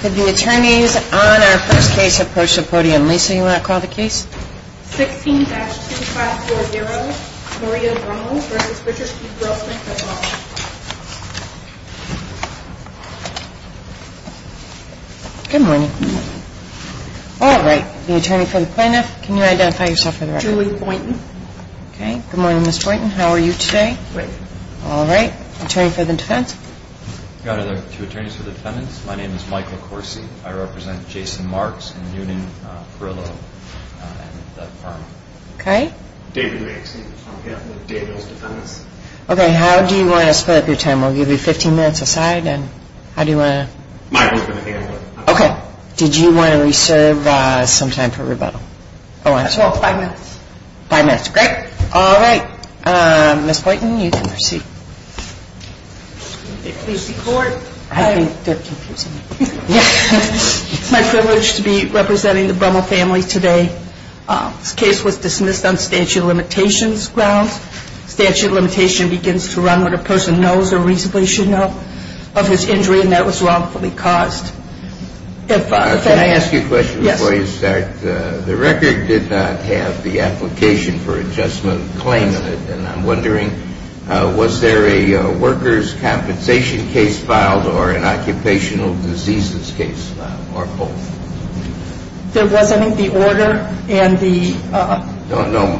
Could the attorneys on our first case approach the podium? Lisa, you want to call the case? 16-2540, Maria Brummel v. Richard P. Grossman. Good morning. All right. The attorney for the plaintiff, can you identify yourself for the record? Julie Boynton. Okay. Good morning, Ms. Boynton. How are you today? Great. All right. Attorney for the defense? Good afternoon, two attorneys for the defendants. My name is Michael Corsi. I represent Jason Marks and Noonan Perillo and the firm. Okay. David Riggs. I'm the attorney for Daniel's defendants. Okay. How do you want to split up your time? We'll give you 15 minutes aside and how do you want to? Michael's going to handle it. Okay. Did you want to reserve some time for rebuttal? I just want five minutes. Five minutes. Great. All right. Ms. Boynton, you can proceed. I think they're confusing me. It's my privilege to be representing the Brummel family today. This case was dismissed on statute of limitations grounds. Statute of limitations begins to run when a person knows or reasonably should know of his injury and that was wrongfully caused. Can I ask you a question before you start? Yes. The record did not have the application for adjustment claim in it and I'm wondering was there a worker's compensation case filed or an occupational diseases case filed or both? There wasn't the order and the – No, no.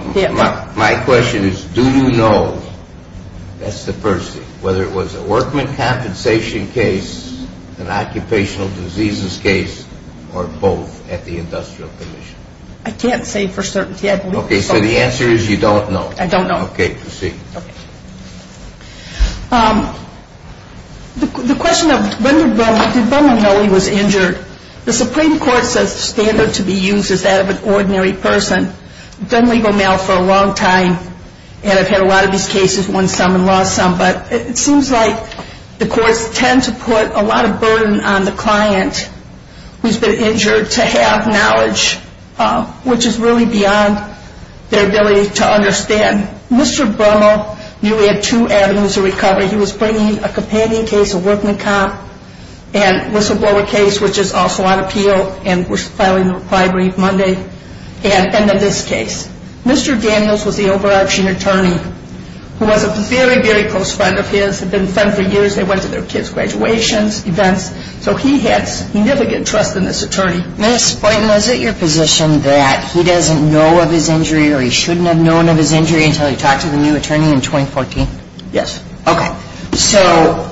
My question is do you know, that's the first thing, whether it was a workman compensation case, an occupational diseases case or both at the industrial commission? I can't say for certainty. Okay. So the answer is you don't know. I don't know. Okay. Proceed. The question of did Brummel know he was injured, the Supreme Court says the standard to be used is that of an ordinary person. I've done legal mail for a long time and I've had a lot of these cases, won some and lost some, but it seems like the courts tend to put a lot of burden on the client who's been injured to have knowledge, which is really beyond their ability to understand. Mr. Brummel knew he had two avenues of recovery. He was bringing a companion case, a workman comp, and whistleblower case, which is also on appeal and we're filing a bribery Monday, and then this case. Mr. Daniels was the overarching attorney who was a very, very close friend of his, had been friends for years, they went to their kids' graduations, events, so he had significant trust in this attorney. Ms. Boynton, is it your position that he doesn't know of his injury or he shouldn't have known of his injury until he talked to the new attorney in 2014? Yes. Okay. So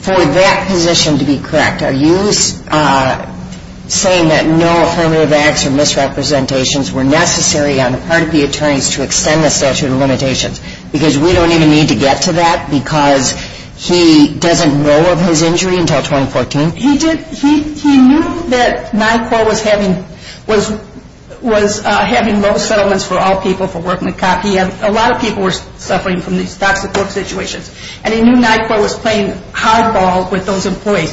for that position to be correct, are you saying that no affirmative acts or misrepresentations were necessary on the part of the attorneys to extend the statute of limitations? Because we don't even need to get to that because he doesn't know of his injury until 2014? He knew that NICOR was having low settlements for all people, for workman comp. A lot of people were suffering from these toxic work situations and he knew NICOR was playing hardball with those employees.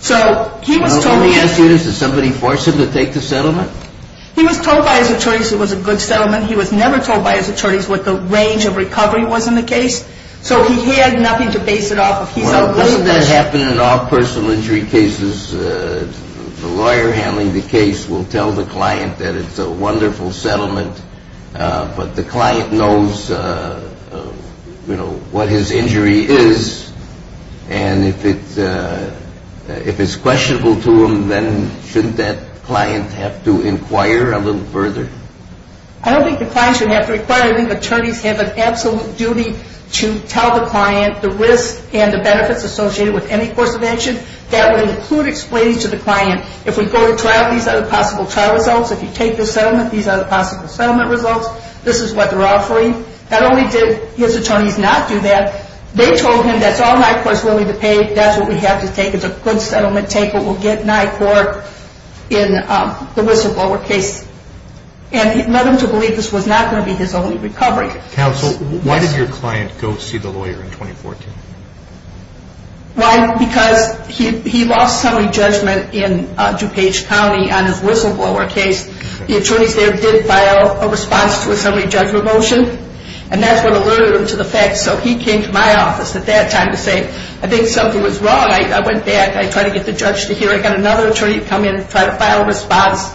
So he was told... Let me ask you this, did somebody force him to take the settlement? He was told by his attorneys it was a good settlement. He was never told by his attorneys what the range of recovery was in the case, so he had nothing to base it off of. Well, doesn't that happen in all personal injury cases? The lawyer handling the case will tell the client that it's a wonderful settlement, but the client knows what his injury is and if it's questionable to him, then shouldn't that client have to inquire a little further? I don't think the client should have to inquire. I think attorneys have an absolute duty to tell the client the risk and the benefits associated with any course of action. That would include explaining to the client, if we go to trial, these are the possible trial results. If you take the settlement, these are the possible settlement results. This is what they're offering. Not only did his attorneys not do that, they told him that's all NICOR is willing to pay. That's what we have to take. It's a good settlement. Take it. We'll get NICOR in the whistleblower case. And it led him to believe this was not going to be his only recovery. Counsel, why did your client go see the lawyer in 2014? Why? Because he lost summary judgment in DuPage County on his whistleblower case. The attorneys there did file a response to a summary judgment motion, and that's what alerted him to the fact. So he came to my office at that time to say, I think something was wrong. I went back. I tried to get the judge to hear it. I got another attorney to come in and try to file a response,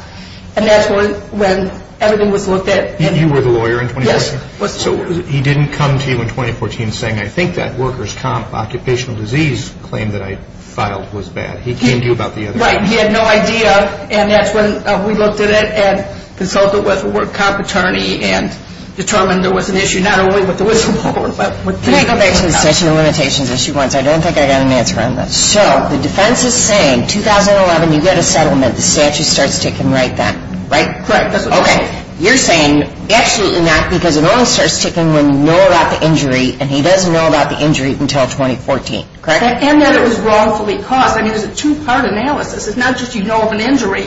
and that's when everything was looked at. You were the lawyer in 2014? Yes. So he didn't come to you in 2014 saying, I think that workers' comp occupational disease claim that I filed was bad. He came to you about the other one. Right. He had no idea, and that's when we looked at it and consulted with a workers' comp attorney and determined there was an issue not only with the whistleblower but with the NICOR. Can I go back to the statute of limitations issue once? I don't think I got an answer on this. So the defense is saying 2011, you get a settlement, the statute starts taking right then, right? Correct. Okay. You're saying absolutely not because it only starts taking when you know about the injury and he doesn't know about the injury until 2014, correct? And that it was wrongfully caused. I mean, there's a two-part analysis. It's not just you know of an injury.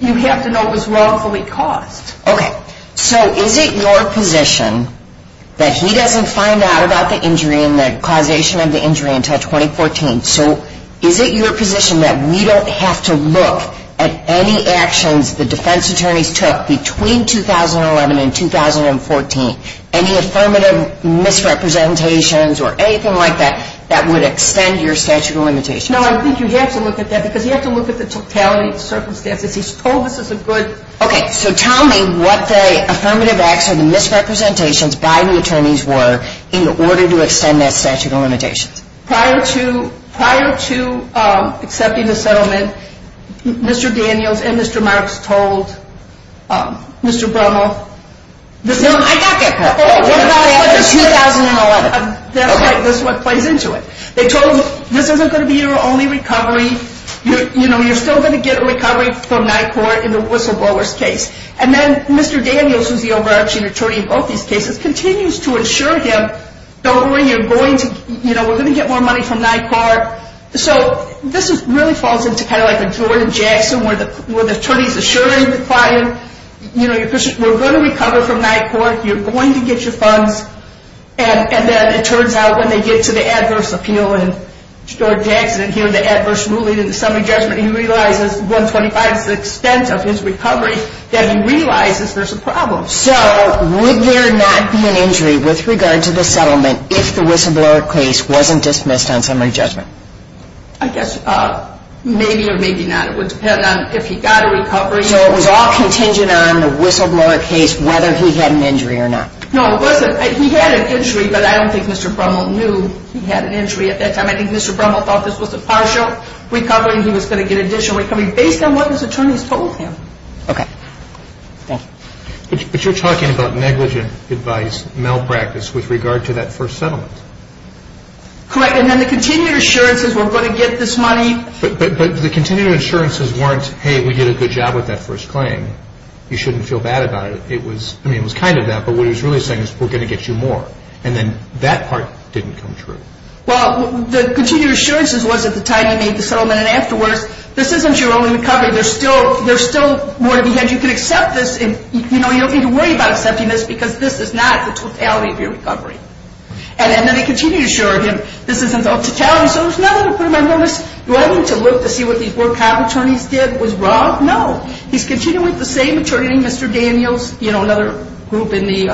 You have to know it was wrongfully caused. Okay. So is it your position that he doesn't find out about the injury and the causation of the injury until 2014? So is it your position that we don't have to look at any actions the defense attorneys took between 2011 and 2014, any affirmative misrepresentations or anything like that, that would extend your statute of limitations? No, I think you have to look at that because you have to look at the totality of circumstances. He's told us it's a good... Okay. So tell me what the affirmative acts or the misrepresentations by the attorneys were in order to extend that statute of limitations. Prior to accepting the settlement, Mr. Daniels and Mr. Marks told Mr. Brummel... No, I got that part. What about after 2011? That's right. That's what plays into it. They told him this isn't going to be your only recovery. You know, you're still going to get a recovery from NICOR in the whistleblower's case. And then Mr. Daniels, who's the overarching attorney in both these cases, continues to assure him, don't worry, we're going to get more money from NICOR. So this really falls into kind of like a Jordan Jackson where the attorney is assuring the client, you know, we're going to recover from NICOR. You're going to get your funds. And then it turns out when they get to the adverse appeal, and Jordan Jackson hearing the adverse ruling in the summary judgment, he realizes 125 is the extent of his recovery, that he realizes there's a problem. So would there not be an injury with regard to the settlement if the whistleblower case wasn't dismissed on summary judgment? I guess maybe or maybe not. It would depend on if he got a recovery. So it was all contingent on the whistleblower case whether he had an injury or not? No, it wasn't. He had an injury, but I don't think Mr. Brummel knew he had an injury at that time. I think Mr. Brummel thought this was a partial recovery and he was going to get additional recovery based on what his attorneys told him. Okay. Thanks. But you're talking about negligent advice, malpractice with regard to that first settlement. Correct. And then the continued assurances, we're going to get this money. But the continued assurances weren't, hey, we did a good job with that first claim. You shouldn't feel bad about it. I mean, it was kind of that, but what he was really saying is we're going to get you more. And then that part didn't come true. Well, the continued assurances was at the time he made the settlement and afterwards, this isn't your only recovery. There's still more to be had. You can accept this and, you know, you don't need to worry about accepting this because this is not the totality of your recovery. And then he continued to assure him this isn't the totality, so there's nothing to put him on notice. Do I need to look to see what these poor cop attorneys did was wrong? No. He's continuing with the same attorney, Mr. Daniels, you know, another group in the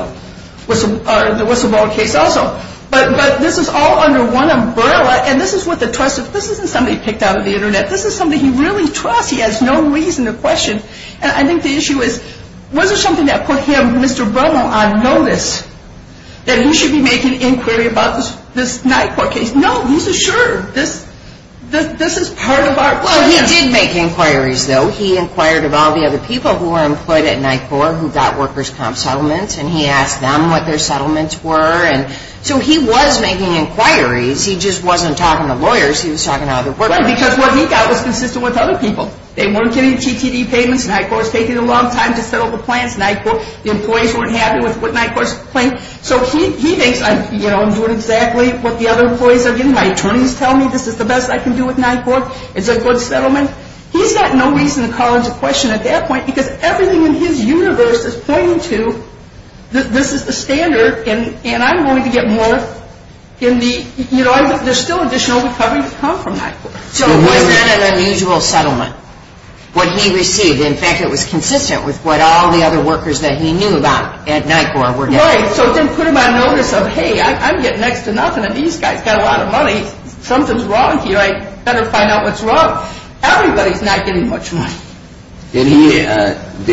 whistleblower case also. But this is all under one umbrella, and this is what the trusted, this isn't something he picked out of the Internet. This is something he really trusts. He has no reason to question. And I think the issue is was it something that put him, Mr. Bruno, on notice that he should be making inquiry about this NICOR case? No. He's assured this is part of our plan. Well, he did make inquiries, though. He inquired about the other people who were employed at NICOR who got workers' comp settlements, and he asked them what their settlements were. And so he was making inquiries. He just wasn't talking to lawyers. He was talking to other workers. Well, because what he got was consistent with other people. They weren't getting TTD payments. NICOR is taking a long time to settle the plans. NICOR, the employees weren't happy with what NICOR is playing. So he thinks, you know, I'm doing exactly what the other employees are doing. My attorneys tell me this is the best I can do with NICOR. It's a good settlement. He's got no reason to call into question at that point because everything in his universe is pointing to this is the standard, and I'm going to get more in the, you know, there's still additional recovery to come from NICOR. So was that an unusual settlement, what he received? In fact, it was consistent with what all the other workers that he knew about at NICOR were getting. Right, so it didn't put him on notice of, hey, I'm getting next to nothing, and these guys got a lot of money. Something's wrong here. I'd better find out what's wrong. Everybody's not getting much money. Did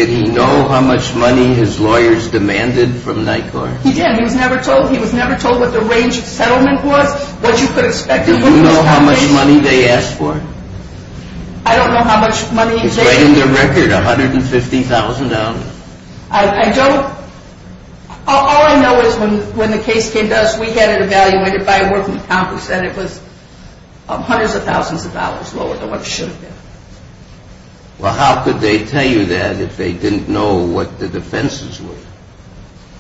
he know how much money his lawyers demanded from NICOR? He did. He was never told what the range of settlement was, what you could expect. Did you know how much money they asked for? I don't know how much money they asked for. He's writing their record, $150,000. I don't. All I know is when the case came to us, we had it evaluated by a working company who said it was hundreds of thousands of dollars lower than what it should have been. Well, how could they tell you that if they didn't know what the defenses were?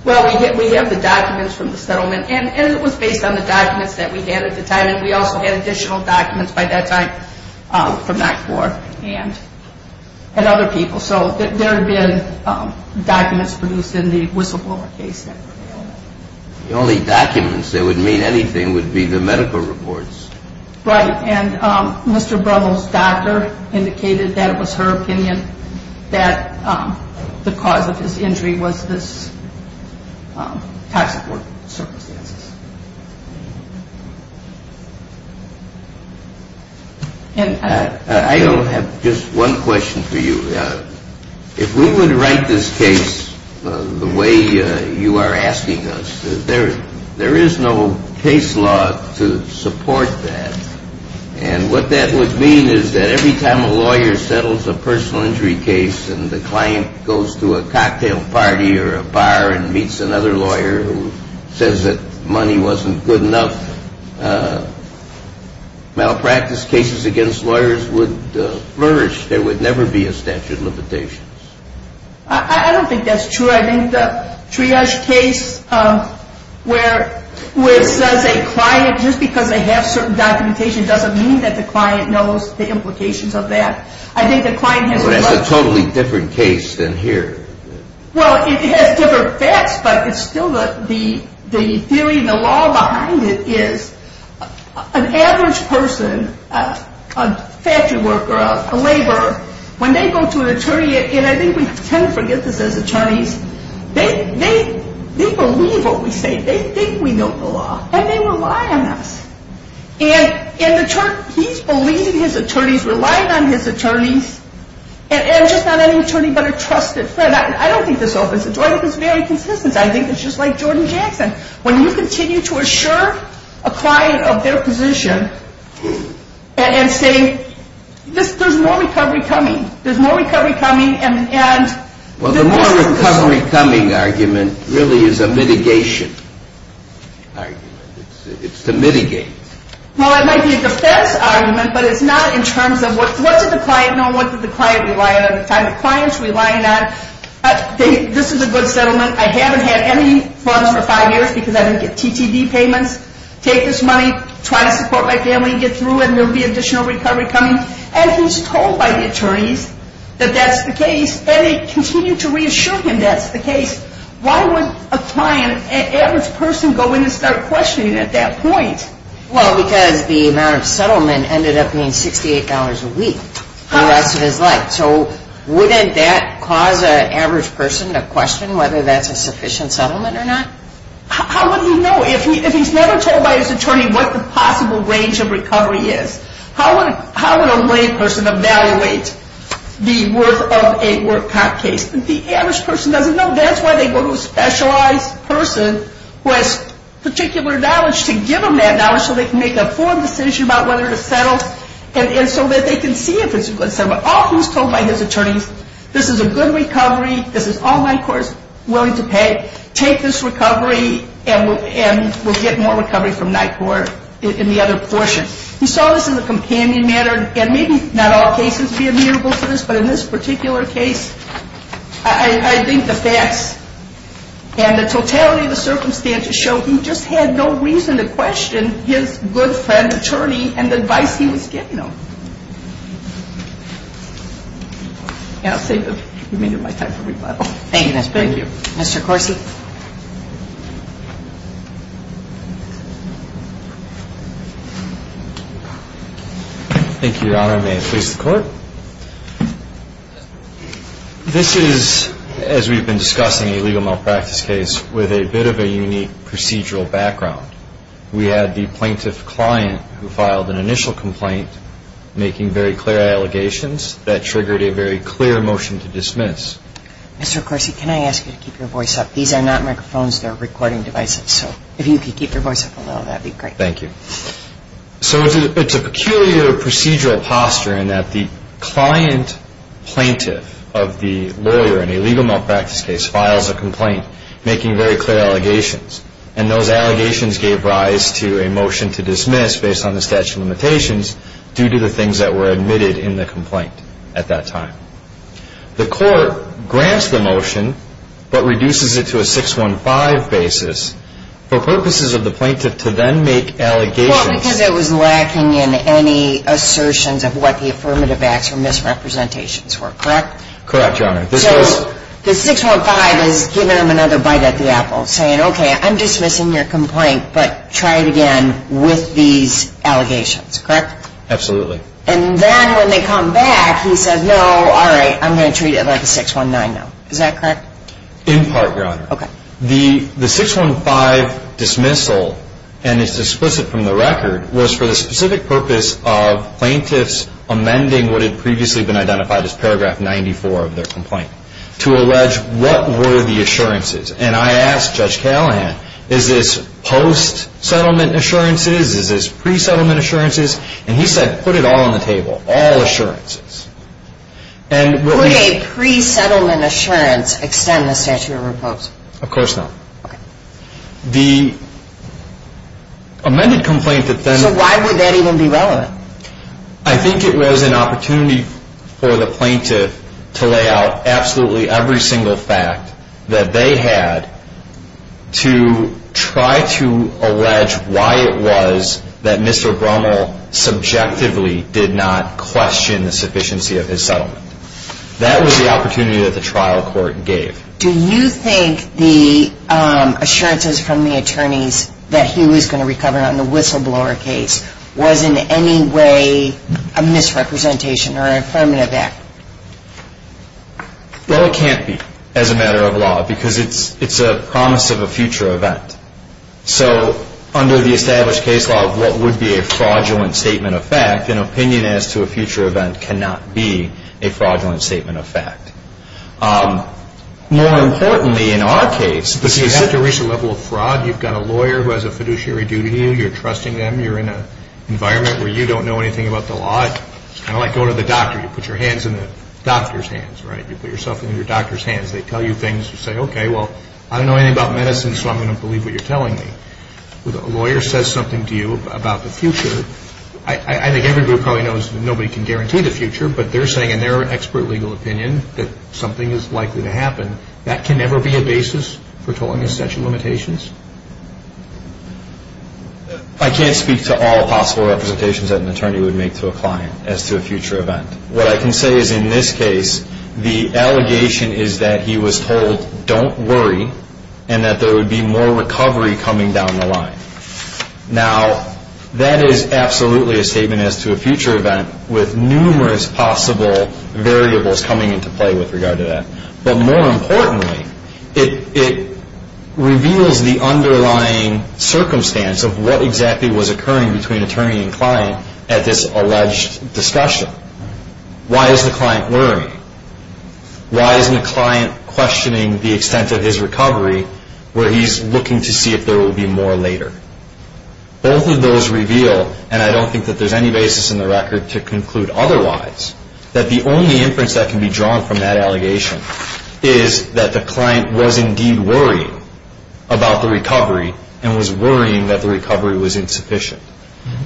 Well, we have the documents from the settlement, and it was based on the documents that we had at the time, and we also had additional documents by that time from NICOR and other people. So there had been documents produced in the whistleblower case that were available. The only documents that would mean anything would be the medical reports. Right, and Mr. Brummel's doctor indicated that it was her opinion that the cause of his injury was this toxic work circumstances. I have just one question for you. If we were to write this case the way you are asking us, there is no case law to support that, and what that would mean is that every time a lawyer settles a personal injury case and the client goes to a cocktail party or a bar and meets another lawyer who says that money wasn't good enough, malpractice cases against lawyers would flourish. There would never be a statute of limitations. I don't think that's true. I think the triage case where it says a client, just because they have certain documentation, doesn't mean that the client knows the implications of that. But that's a totally different case than here. Well, it has different facts, but it's still the theory and the law behind it is an average person, a factory worker, a laborer, when they go to an attorney, and I think we tend to forget this as attorneys, they believe what we say. They think we know the law, and they rely on us. And he's believing his attorneys, relying on his attorneys, and just not any attorney but a trusted friend. I don't think this opens the door. I think it's very consistent. I think it's just like Jordan Jackson. When you continue to assure a client of their position and say there's more recovery coming, there's more recovery coming, Well, the more recovery coming argument really is a mitigation argument. It's to mitigate. Well, it might be a defense argument, but it's not in terms of what did the client know and what did the client rely on at the time. The client's relying on this is a good settlement. I haven't had any funds for five years because I didn't get TTD payments. Take this money. Try to support my family and get through, and there will be additional recovery coming. And he's told by the attorneys that that's the case, and they continue to reassure him that's the case. Why would a client, an average person, go in and start questioning at that point? Well, because the amount of settlement ended up being $68 a week for the rest of his life. So wouldn't that cause an average person to question whether that's a sufficient settlement or not? How would he know? If he's never told by his attorney what the possible range of recovery is, how would a lay person evaluate the worth of a work cop case? The average person doesn't know. That's why they go to a specialized person who has particular knowledge to give them that knowledge so they can make an informed decision about whether to settle and so that they can see if it's a good settlement. All he's told by his attorneys, this is a good recovery. This is all NICOR is willing to pay. Take this recovery, and we'll get more recovery from NICOR in the other portion. He saw this as a companion matter, and maybe not all cases would be admirable to this, but in this particular case, I think the facts and the totality of the circumstances show he just had no reason to question his good friend attorney and the advice he was giving him. And I'll save the remainder of my time for rebuttal. Thank you. Thank you. Mr. Corsi. Thank you, Your Honor. May it please the Court. This is, as we've been discussing, a legal malpractice case with a bit of a unique procedural background. We had the plaintiff client who filed an initial complaint making very clear allegations that triggered a very clear motion to dismiss. Mr. Corsi, can I ask you to keep your voice up? These are very important questions. These are not microphones. They're recording devices. So if you could keep your voice up a little, that would be great. Thank you. So it's a peculiar procedural posture in that the client plaintiff of the lawyer in a legal malpractice case files a complaint making very clear allegations, and those allegations gave rise to a motion to dismiss based on the statute of limitations due to the things that were admitted in the complaint at that time. The Court grants the motion but reduces it to a 615 basis for purposes of the plaintiff to then make allegations. Well, because it was lacking in any assertions of what the affirmative acts or misrepresentations were, correct? Correct, Your Honor. So the 615 is giving him another bite at the apple, saying, okay, I'm dismissing your complaint, but try it again with these allegations, correct? Absolutely. And then when they come back, he says, no, all right, I'm going to treat it like a 619 now. Is that correct? In part, Your Honor. Okay. The 615 dismissal, and it's explicit from the record, was for the specific purpose of plaintiffs amending what had previously been identified as paragraph 94 of their complaint to allege what were the assurances. And I asked Judge Callahan, is this post-settlement assurances? Is this pre-settlement assurances? And he said, put it all on the table, all assurances. Would a pre-settlement assurance extend the statute of repose? Of course not. Okay. The amended complaint that then So why would that even be relevant? I think it was an opportunity for the plaintiff to lay out absolutely every single fact that they had to try to allege why it was that Mr. Brummel subjectively did not question the sufficiency of his settlement. That was the opportunity that the trial court gave. Do you think the assurances from the attorneys that he was going to recover on the whistleblower case was in any way a misrepresentation or affirmative act? Well, it can't be as a matter of law because it's a promise of a future event. So under the established case law, what would be a fraudulent statement of fact, an opinion as to a future event cannot be a fraudulent statement of fact. More importantly, in our case, this is But you have to reach a level of fraud. You've got a lawyer who has a fiduciary duty to you. You're trusting them. You're in an environment where you don't know anything about the law. It's kind of like going to the doctor. You put your hands in the doctor's hands, right? You put yourself in your doctor's hands. They tell you things. You say, okay, well, I don't know anything about medicine, so I'm going to believe what you're telling me. When a lawyer says something to you about the future, I think every group probably knows that nobody can guarantee the future, but they're saying in their expert legal opinion that something is likely to happen. That can never be a basis for telling us such limitations? I can't speak to all possible representations that an attorney would make to a client as to a future event. What I can say is in this case, the allegation is that he was told, don't worry, and that there would be more recovery coming down the line. Now, that is absolutely a statement as to a future event with numerous possible variables coming into play with regard to that. But more importantly, it reveals the underlying circumstance of what exactly was occurring between attorney and client at this alleged discussion. Why is the client worrying? Why isn't the client questioning the extent of his recovery where he's looking to see if there will be more later? Both of those reveal, and I don't think that there's any basis in the record to conclude otherwise, that the only inference that can be drawn from that allegation is that the client was indeed worrying about the recovery and was worrying that the recovery was insufficient.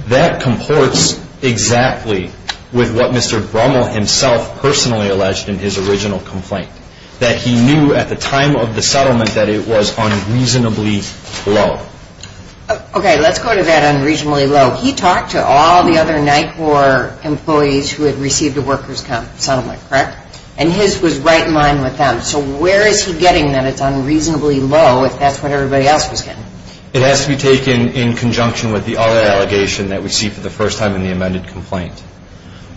That comports exactly with what Mr. Brummel himself personally alleged in his original complaint, that he knew at the time of the settlement that it was unreasonably low. Okay, let's go to that unreasonably low. He talked to all the other NICOR employees who had received a workers' comp settlement, correct? And his was right in line with them. So where is he getting that it's unreasonably low if that's what everybody else was getting? It has to be taken in conjunction with the other allegation that we see for the first time in the amended complaint,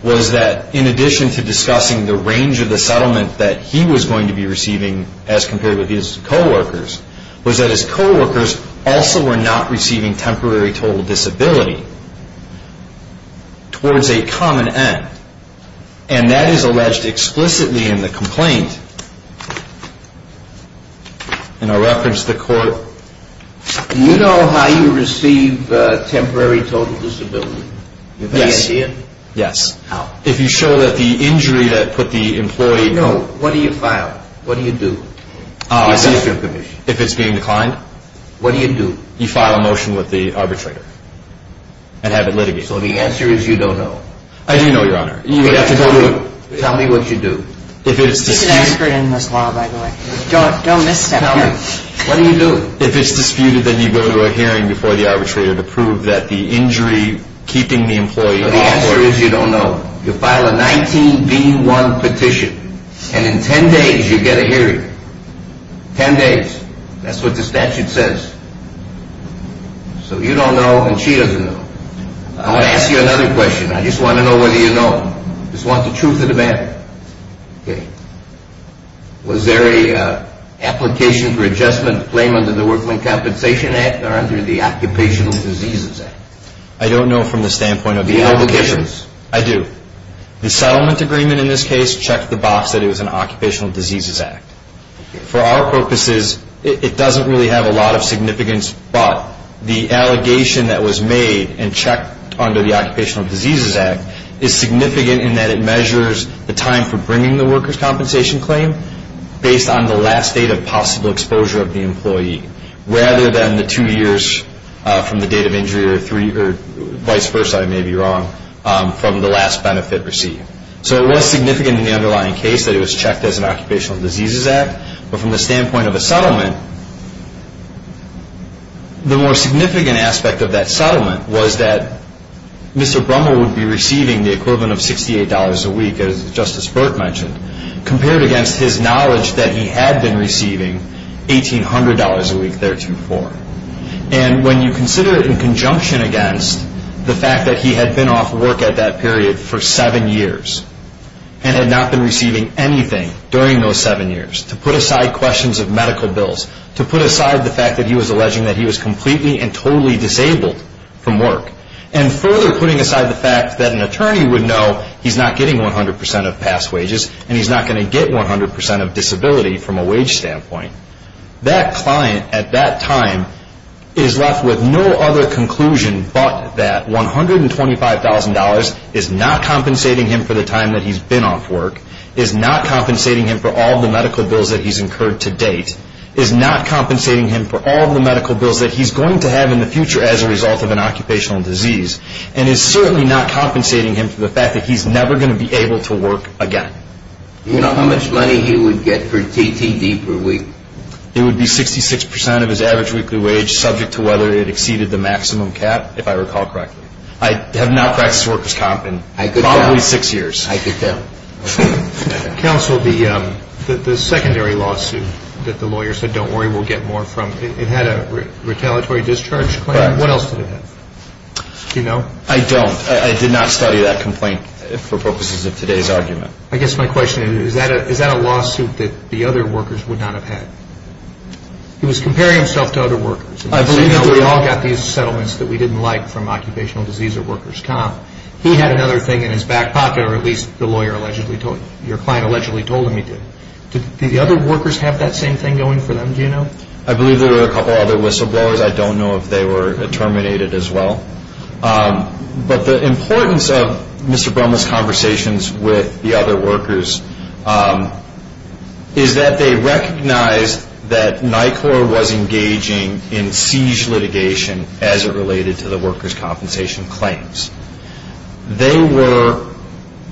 was that in addition to discussing the range of the settlement that he was going to be receiving as compared with his coworkers, was that his coworkers also were not receiving temporary total disability towards a common end. And that is alleged explicitly in the complaint. And I'll reference the court. Do you know how you receive temporary total disability? Yes. Do you have any idea? Yes. How? If you show that the injury that put the employee... No, what do you file? What do you do? If it's being declined? What do you do? You file a motion with the arbitrator and have it litigated. So the answer is you don't know. I do know, Your Honor. You have to tell me what you do. You can ask her in this law, by the way. Don't misstep. What do you do? If it's disputed, then you go to a hearing before the arbitrator to prove that the injury keeping the employee... The answer is you don't know. You file a 19B1 petition. And in 10 days, you get a hearing. Ten days. That's what the statute says. So you don't know and she doesn't know. I want to ask you another question. I just want to know whether you know. I just want the truth of the matter. Okay. Was there an application for adjustment to claim under the Workman Compensation Act or under the Occupational Diseases Act? I don't know from the standpoint of the application. Do you have evidence? I do. The settlement agreement in this case checked the box that it was an Occupational Diseases Act. For our purposes, it doesn't really have a lot of significance, but the allegation that was made and checked under the Occupational Diseases Act is significant in that it measures the time for bringing the workers' compensation claim based on the last date of possible exposure of the employee rather than the two years from the date of injury or vice versa, I may be wrong, from the last benefit received. So it was significant in the underlying case that it was checked as an Occupational Diseases Act, but from the standpoint of a settlement, the more significant aspect of that settlement was that Mr. Brummel would be receiving the equivalent of $68 a week, as Justice Burke mentioned, compared against his knowledge that he had been receiving $1,800 a week theretofore. And when you consider it in conjunction against the fact that he had been off work at that period for seven years and had not been receiving anything during those seven years, to put aside questions of medical bills, to put aside the fact that he was alleging that he was completely and totally disabled from work, and further putting aside the fact that an attorney would know he's not getting 100% of past wages and he's not going to get 100% of disability from a wage standpoint, that client at that time is left with no other conclusion but that $125,000 is not compensating him for the time that he's been off work, is not compensating him for all of the medical bills that he's incurred to date, is not compensating him for all of the medical bills that he's going to have in the future as a result of an occupational disease, and is certainly not compensating him for the fact that he's never going to be able to work again. Do you know how much money he would get for TTD per week? It would be 66% of his average weekly wage, subject to whether it exceeded the maximum cap, if I recall correctly. I have now practiced workers' comp in probably six years. I could tell. Counsel, the secondary lawsuit that the lawyer said, don't worry, we'll get more from, it had a retaliatory discharge claim. Correct. What else did it have? Do you know? I don't. I did not study that complaint for purposes of today's argument. I guess my question is, is that a lawsuit that the other workers would not have had? He was comparing himself to other workers. I believe that we all got these settlements that we didn't like from occupational disease or workers' comp. He had another thing in his back pocket, or at least the lawyer allegedly told, your client allegedly told him he did. Did the other workers have that same thing going for them, do you know? I believe there were a couple other whistleblowers. I don't know if they were terminated as well. But the importance of Mr. Brummel's conversations with the other workers is that they recognized that NICOR was engaging in siege litigation as it related to the workers' compensation claims. They were,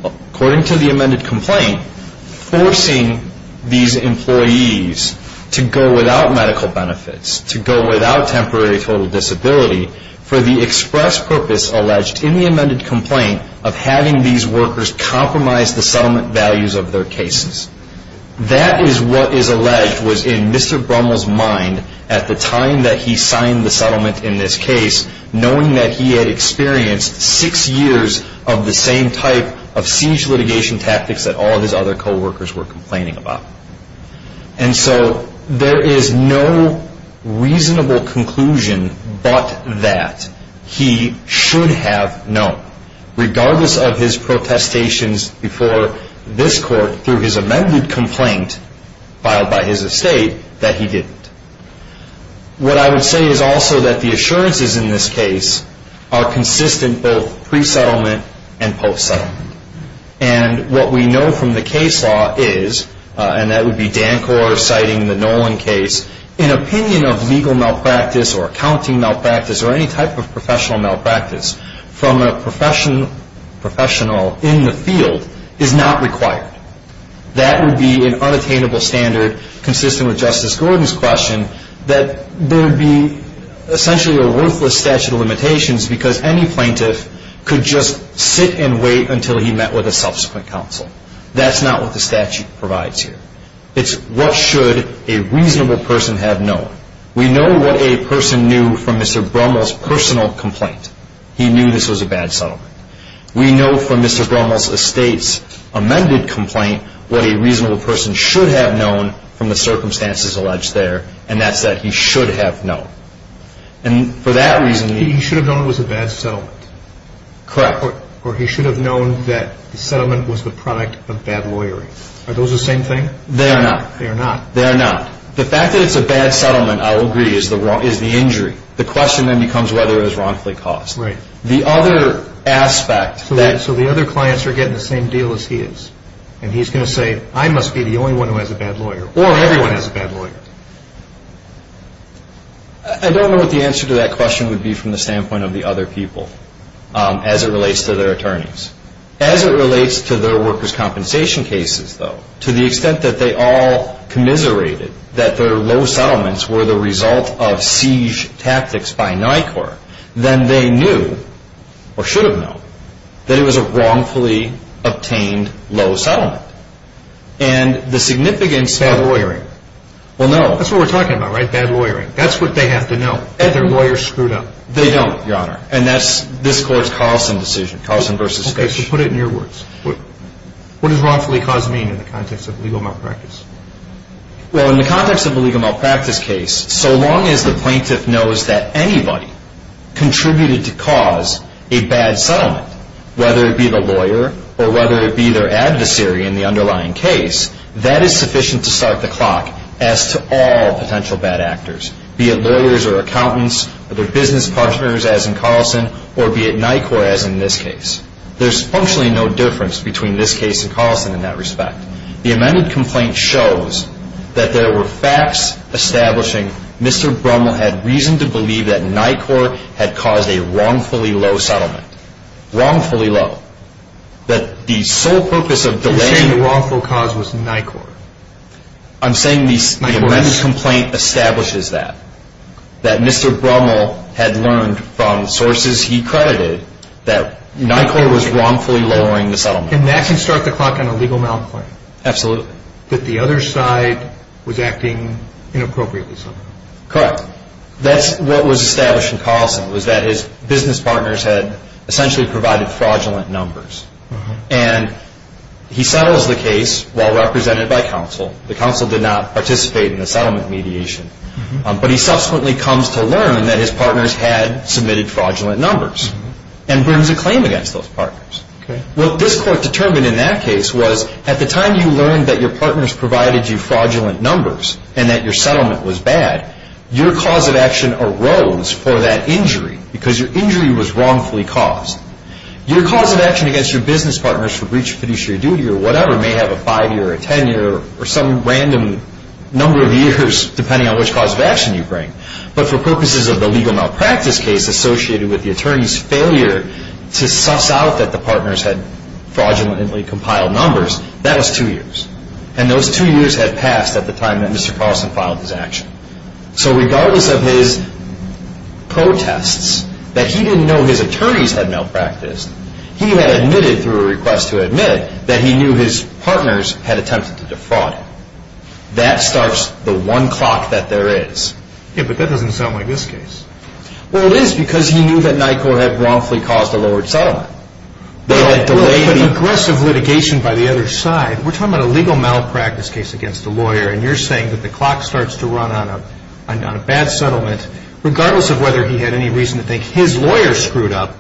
according to the amended complaint, forcing these employees to go without medical benefits, to go without temporary total disability for the express purpose alleged in the amended complaint of having these workers compromise the settlement values of their cases. That is what is alleged was in Mr. Brummel's mind at the time that he signed the settlement in this case, knowing that he had experienced six years of the same type of siege litigation tactics that all of his other co-workers were complaining about. And so there is no reasonable conclusion but that he should have known, regardless of his protestations before this court through his amended complaint filed by his estate, that he didn't. What I would say is also that the assurances in this case are consistent both pre-settlement and post-settlement. And what we know from the case law is, and that would be Dancor citing the Nolan case, an opinion of legal malpractice or accounting malpractice or any type of professional malpractice from a professional in the field is not required. That would be an unattainable standard consistent with Justice Gordon's question that there would be essentially a worthless statute of limitations because any plaintiff could just sit and wait until he met with a subsequent counsel. That's not what the statute provides here. It's what should a reasonable person have known. We know what a person knew from Mr. Brummel's personal complaint. He knew this was a bad settlement. We know from Mr. Brummel's estate's amended complaint what a reasonable person should have known from the circumstances alleged there, and that's that he should have known. And for that reason... He should have known it was a bad settlement. Correct. Or he should have known that the settlement was the product of bad lawyering. Are those the same thing? They are not. They are not. They are not. The fact that it's a bad settlement, I will agree, is the injury. The question then becomes whether it was wrongfully caused. Right. The other aspect that... So the other clients are getting the same deal as he is, and he's going to say, I must be the only one who has a bad lawyer, or everyone has a bad lawyer. I don't know what the answer to that question would be from the standpoint of the other people as it relates to their attorneys. As it relates to their workers' compensation cases, though, to the extent that they all commiserated that their low settlements were the result of siege tactics by NICOR, then they knew, or should have known, that it was a wrongfully obtained low settlement. And the significance... Bad lawyering. Well, no. That's what we're talking about, right? Bad lawyering. That's what they have to know. That their lawyer screwed up. They don't, Your Honor. And that's this court's Carlson decision. Carlson v. Fish. Okay. So put it in your words. What does wrongfully caused mean in the context of illegal malpractice? Well, in the context of a legal malpractice case, so long as the plaintiff knows that anybody contributed to cause a bad settlement, whether it be the lawyer or whether it be their adversary in the underlying case, that is sufficient to start the clock as to all potential bad actors, be it lawyers or accountants or their business partners, as in Carlson, or be it NICOR, as in this case. There's functionally no difference between this case and Carlson in that respect. The amended complaint shows that there were facts establishing Mr. Brummel had reason to believe that NICOR had caused a wrongfully low settlement. Wrongfully low. That the sole purpose of delaying the wrongful cause was NICOR. I'm saying the amended complaint establishes that. That Mr. Brummel had learned from sources he credited that NICOR was wrongfully lowering the settlement. And that can start the clock on a legal malclaim. Absolutely. That the other side was acting inappropriately. Correct. That's what was established in Carlson, was that his business partners had essentially provided fraudulent numbers. And he settles the case while represented by counsel. The counsel did not participate in the settlement mediation. But he subsequently comes to learn that his partners had submitted fraudulent numbers and brings a claim against those partners. Okay. What this court determined in that case was, at the time you learned that your partners provided you fraudulent numbers and that your settlement was bad, your cause of action arose for that injury because your injury was wrongfully caused. Your cause of action against your business partners for breach of fiduciary duty or whatever may have a five-year or a ten-year or some random number of years depending on which cause of action you bring. But for purposes of the legal malpractice case associated with the attorney's failure to suss out that the partners had fraudulently compiled numbers, that was two years. And those two years had passed at the time that Mr. Carlson filed his action. So regardless of his protests that he didn't know his attorneys had malpracticed, he had admitted through a request to admit that he knew his partners had attempted to defraud him. That starts the one clock that there is. Yeah, but that doesn't sound like this case. Well, it is because he knew that NYCOR had wrongfully caused a lowered settlement. They had delayed it. Well, but aggressive litigation by the other side, we're talking about a legal malpractice case against a lawyer and you're saying that the clock starts to run on a bad settlement regardless of whether he had any reason to think his lawyer screwed up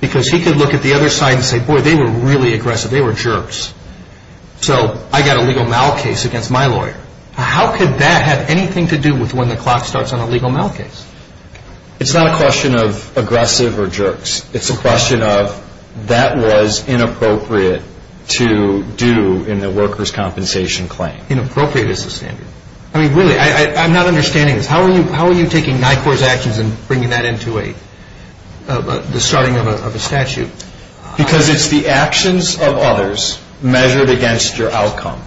because he could look at the other side and say, boy, they were really aggressive. So I got a legal mal case against my lawyer. How could that have anything to do with when the clock starts on a legal mal case? It's not a question of aggressive or jerks. It's a question of that was inappropriate to do in the workers' compensation claim. Inappropriate is the standard. I mean, really, I'm not understanding this. How are you taking NYCOR's actions and bringing that into the starting of a statute? Because it's the actions of others measured against your outcome.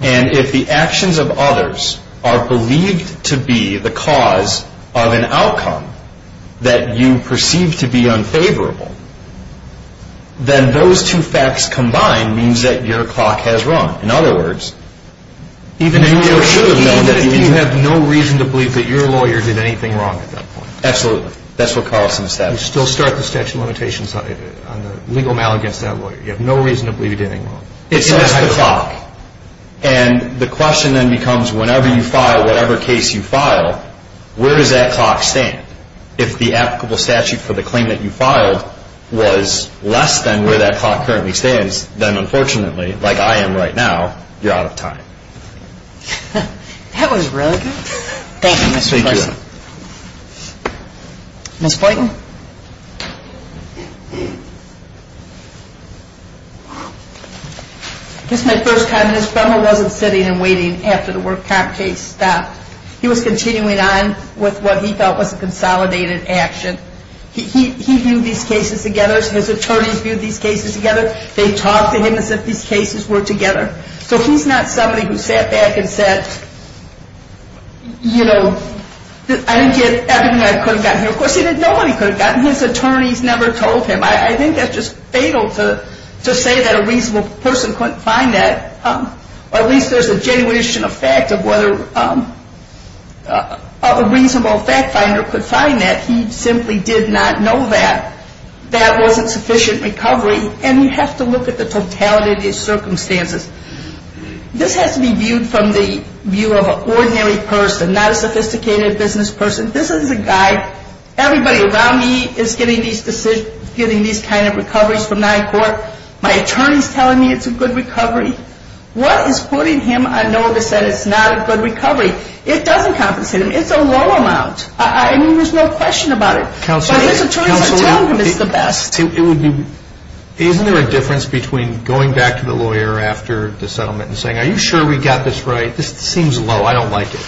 And if the actions of others are believed to be the cause of an outcome that you perceive to be unfavorable, then those two facts combined means that your clock has run. In other words, even if you should have known that you had no reason to believe that your lawyer did anything wrong at that point. Absolutely. That's what Carlson established. You still start the statute of limitations on the legal mal against that lawyer. You have no reason to believe he did anything wrong. It's just the clock. And the question then becomes, whenever you file whatever case you file, where does that clock stand? If the applicable statute for the claim that you filed was less than where that clock currently stands, then unfortunately, like I am right now, you're out of time. That was really good. Thank you, Mr. Carlson. Ms. Flayton. This is my first time. Mr. Brummel wasn't sitting and waiting after the work comp case stopped. He was continuing on with what he felt was a consolidated action. He viewed these cases together. His attorneys viewed these cases together. They talked to him as if these cases were together. So he's not somebody who sat back and said, you know, I didn't get everything I could have gotten here. Of course, he didn't know what he could have gotten. His attorneys never told him. I think that's just fatal to say that a reasonable person couldn't find that. Or at least there's a genuine issue of fact of whether a reasonable fact finder could find that. He simply did not know that. That wasn't sufficient recovery. And you have to look at the totality of these circumstances. This has to be viewed from the view of an ordinary person, not a sophisticated business person. This is a guy. Everybody around me is getting these kind of recoveries from nine court. My attorney's telling me it's a good recovery. What is putting him on notice that it's not a good recovery? It doesn't compensate him. It's a low amount. I mean, there's no question about it. But his attorneys are telling him it's the best. Isn't there a difference between going back to the lawyer after the settlement and saying, are you sure we got this right? This seems low. I don't like it.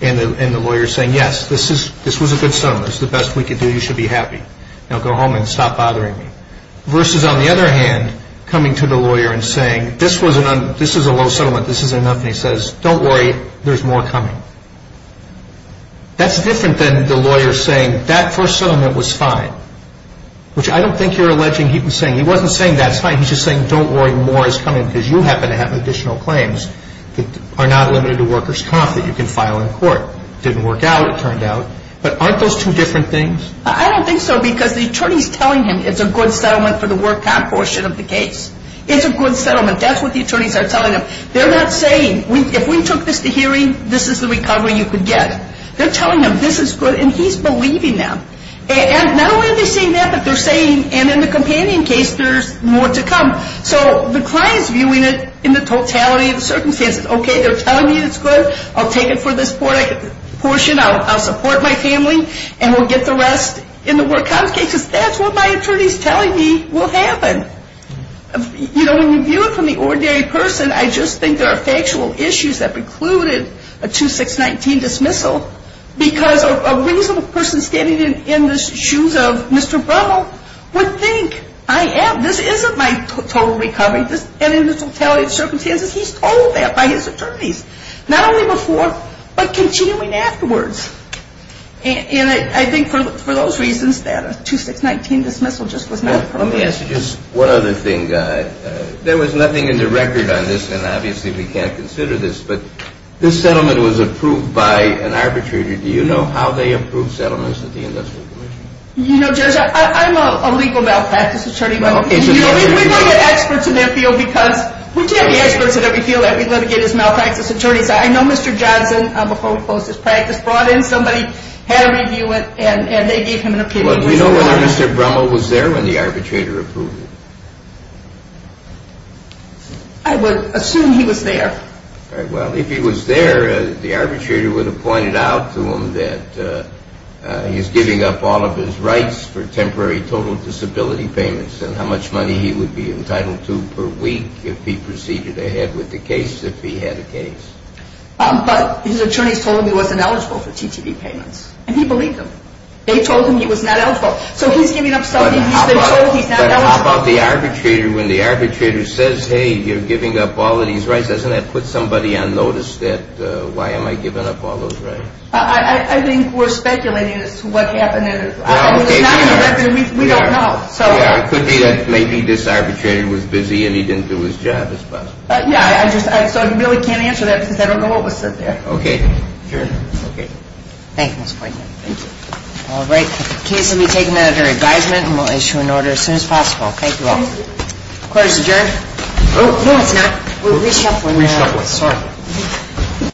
And the lawyer saying, yes, this was a good settlement. This is the best we could do. You should be happy. Now go home and stop bothering me. Versus, on the other hand, coming to the lawyer and saying, this is a low settlement. This is enough. And he says, don't worry. There's more coming. That's different than the lawyer saying, that first settlement was fine. Which I don't think you're alleging he was saying. He wasn't saying that's fine. He's just saying, don't worry, more is coming because you happen to have additional claims that are not limited to workers' comp that you can file in court. Didn't work out, it turned out. But aren't those two different things? I don't think so because the attorney's telling him it's a good settlement for the work comp portion of the case. It's a good settlement. That's what the attorneys are telling him. They're not saying, if we took this to hearing, this is the recovery you could get. They're telling him this is good, and he's believing them. And not only are they saying that, but they're saying, and in the companion case, there's more to come. So the client's viewing it in the totality of the circumstances. Okay, they're telling me it's good. I'll take it for this portion. I'll support my family, and we'll get the rest in the work comp cases. That's what my attorney's telling me will happen. You know, when you view it from the ordinary person, I just think there are factual issues that precluded a 2619 dismissal because a reasonable person standing in the shoes of Mr. Brummel would think, I have, this isn't my total recovery. And in the totality of circumstances, he's told that by his attorneys. Not only before, but continuing afterwards. And I think for those reasons that a 2619 dismissal just was not appropriate. Let me ask you just one other thing, Guy. There was nothing in the record on this, and obviously we can't consider this, but this settlement was approved by an arbitrator. Do you know how they approve settlements at the Industrial Commission? You know, Judge, I'm a legal malpractice attorney. We don't get experts in that field because, we don't get experts in every field that we litigate as malpractice attorneys. I know Mr. Johnson, before we closed this practice, brought in somebody, had a review, and they gave him an opinion. Well, do you know whether Mr. Brummel was there when the arbitrator approved it? I would assume he was there. Well, if he was there, the arbitrator would have pointed out to him that he's giving up all of his rights for temporary total disability payments, and how much money he would be entitled to per week, if he proceeded ahead with the case, if he had a case. But his attorneys told him he wasn't eligible for TTP payments. And he believed them. They told him he was not eligible. So he's giving up something he's been told he's not eligible for. But how about the arbitrator, when the arbitrator says, hey, you're giving up all of these rights, doesn't that put somebody on notice that why am I giving up all those rights? I think we're speculating as to what happened. We don't know. Yeah, it could be that maybe this arbitrator was busy and he didn't do his job as best. Yeah. So I really can't answer that because I don't know what was said there. Okay. Sure. Okay. Thank you, Mr. Poitner. Thank you. All right. The case will be taken under advisement, and we'll issue an order as soon as possible. Thank you all. Thank you. Thank you, Mr. Geraghty. Oh, no, it's not. We reached out for you now. We reached out with someone else. Okay.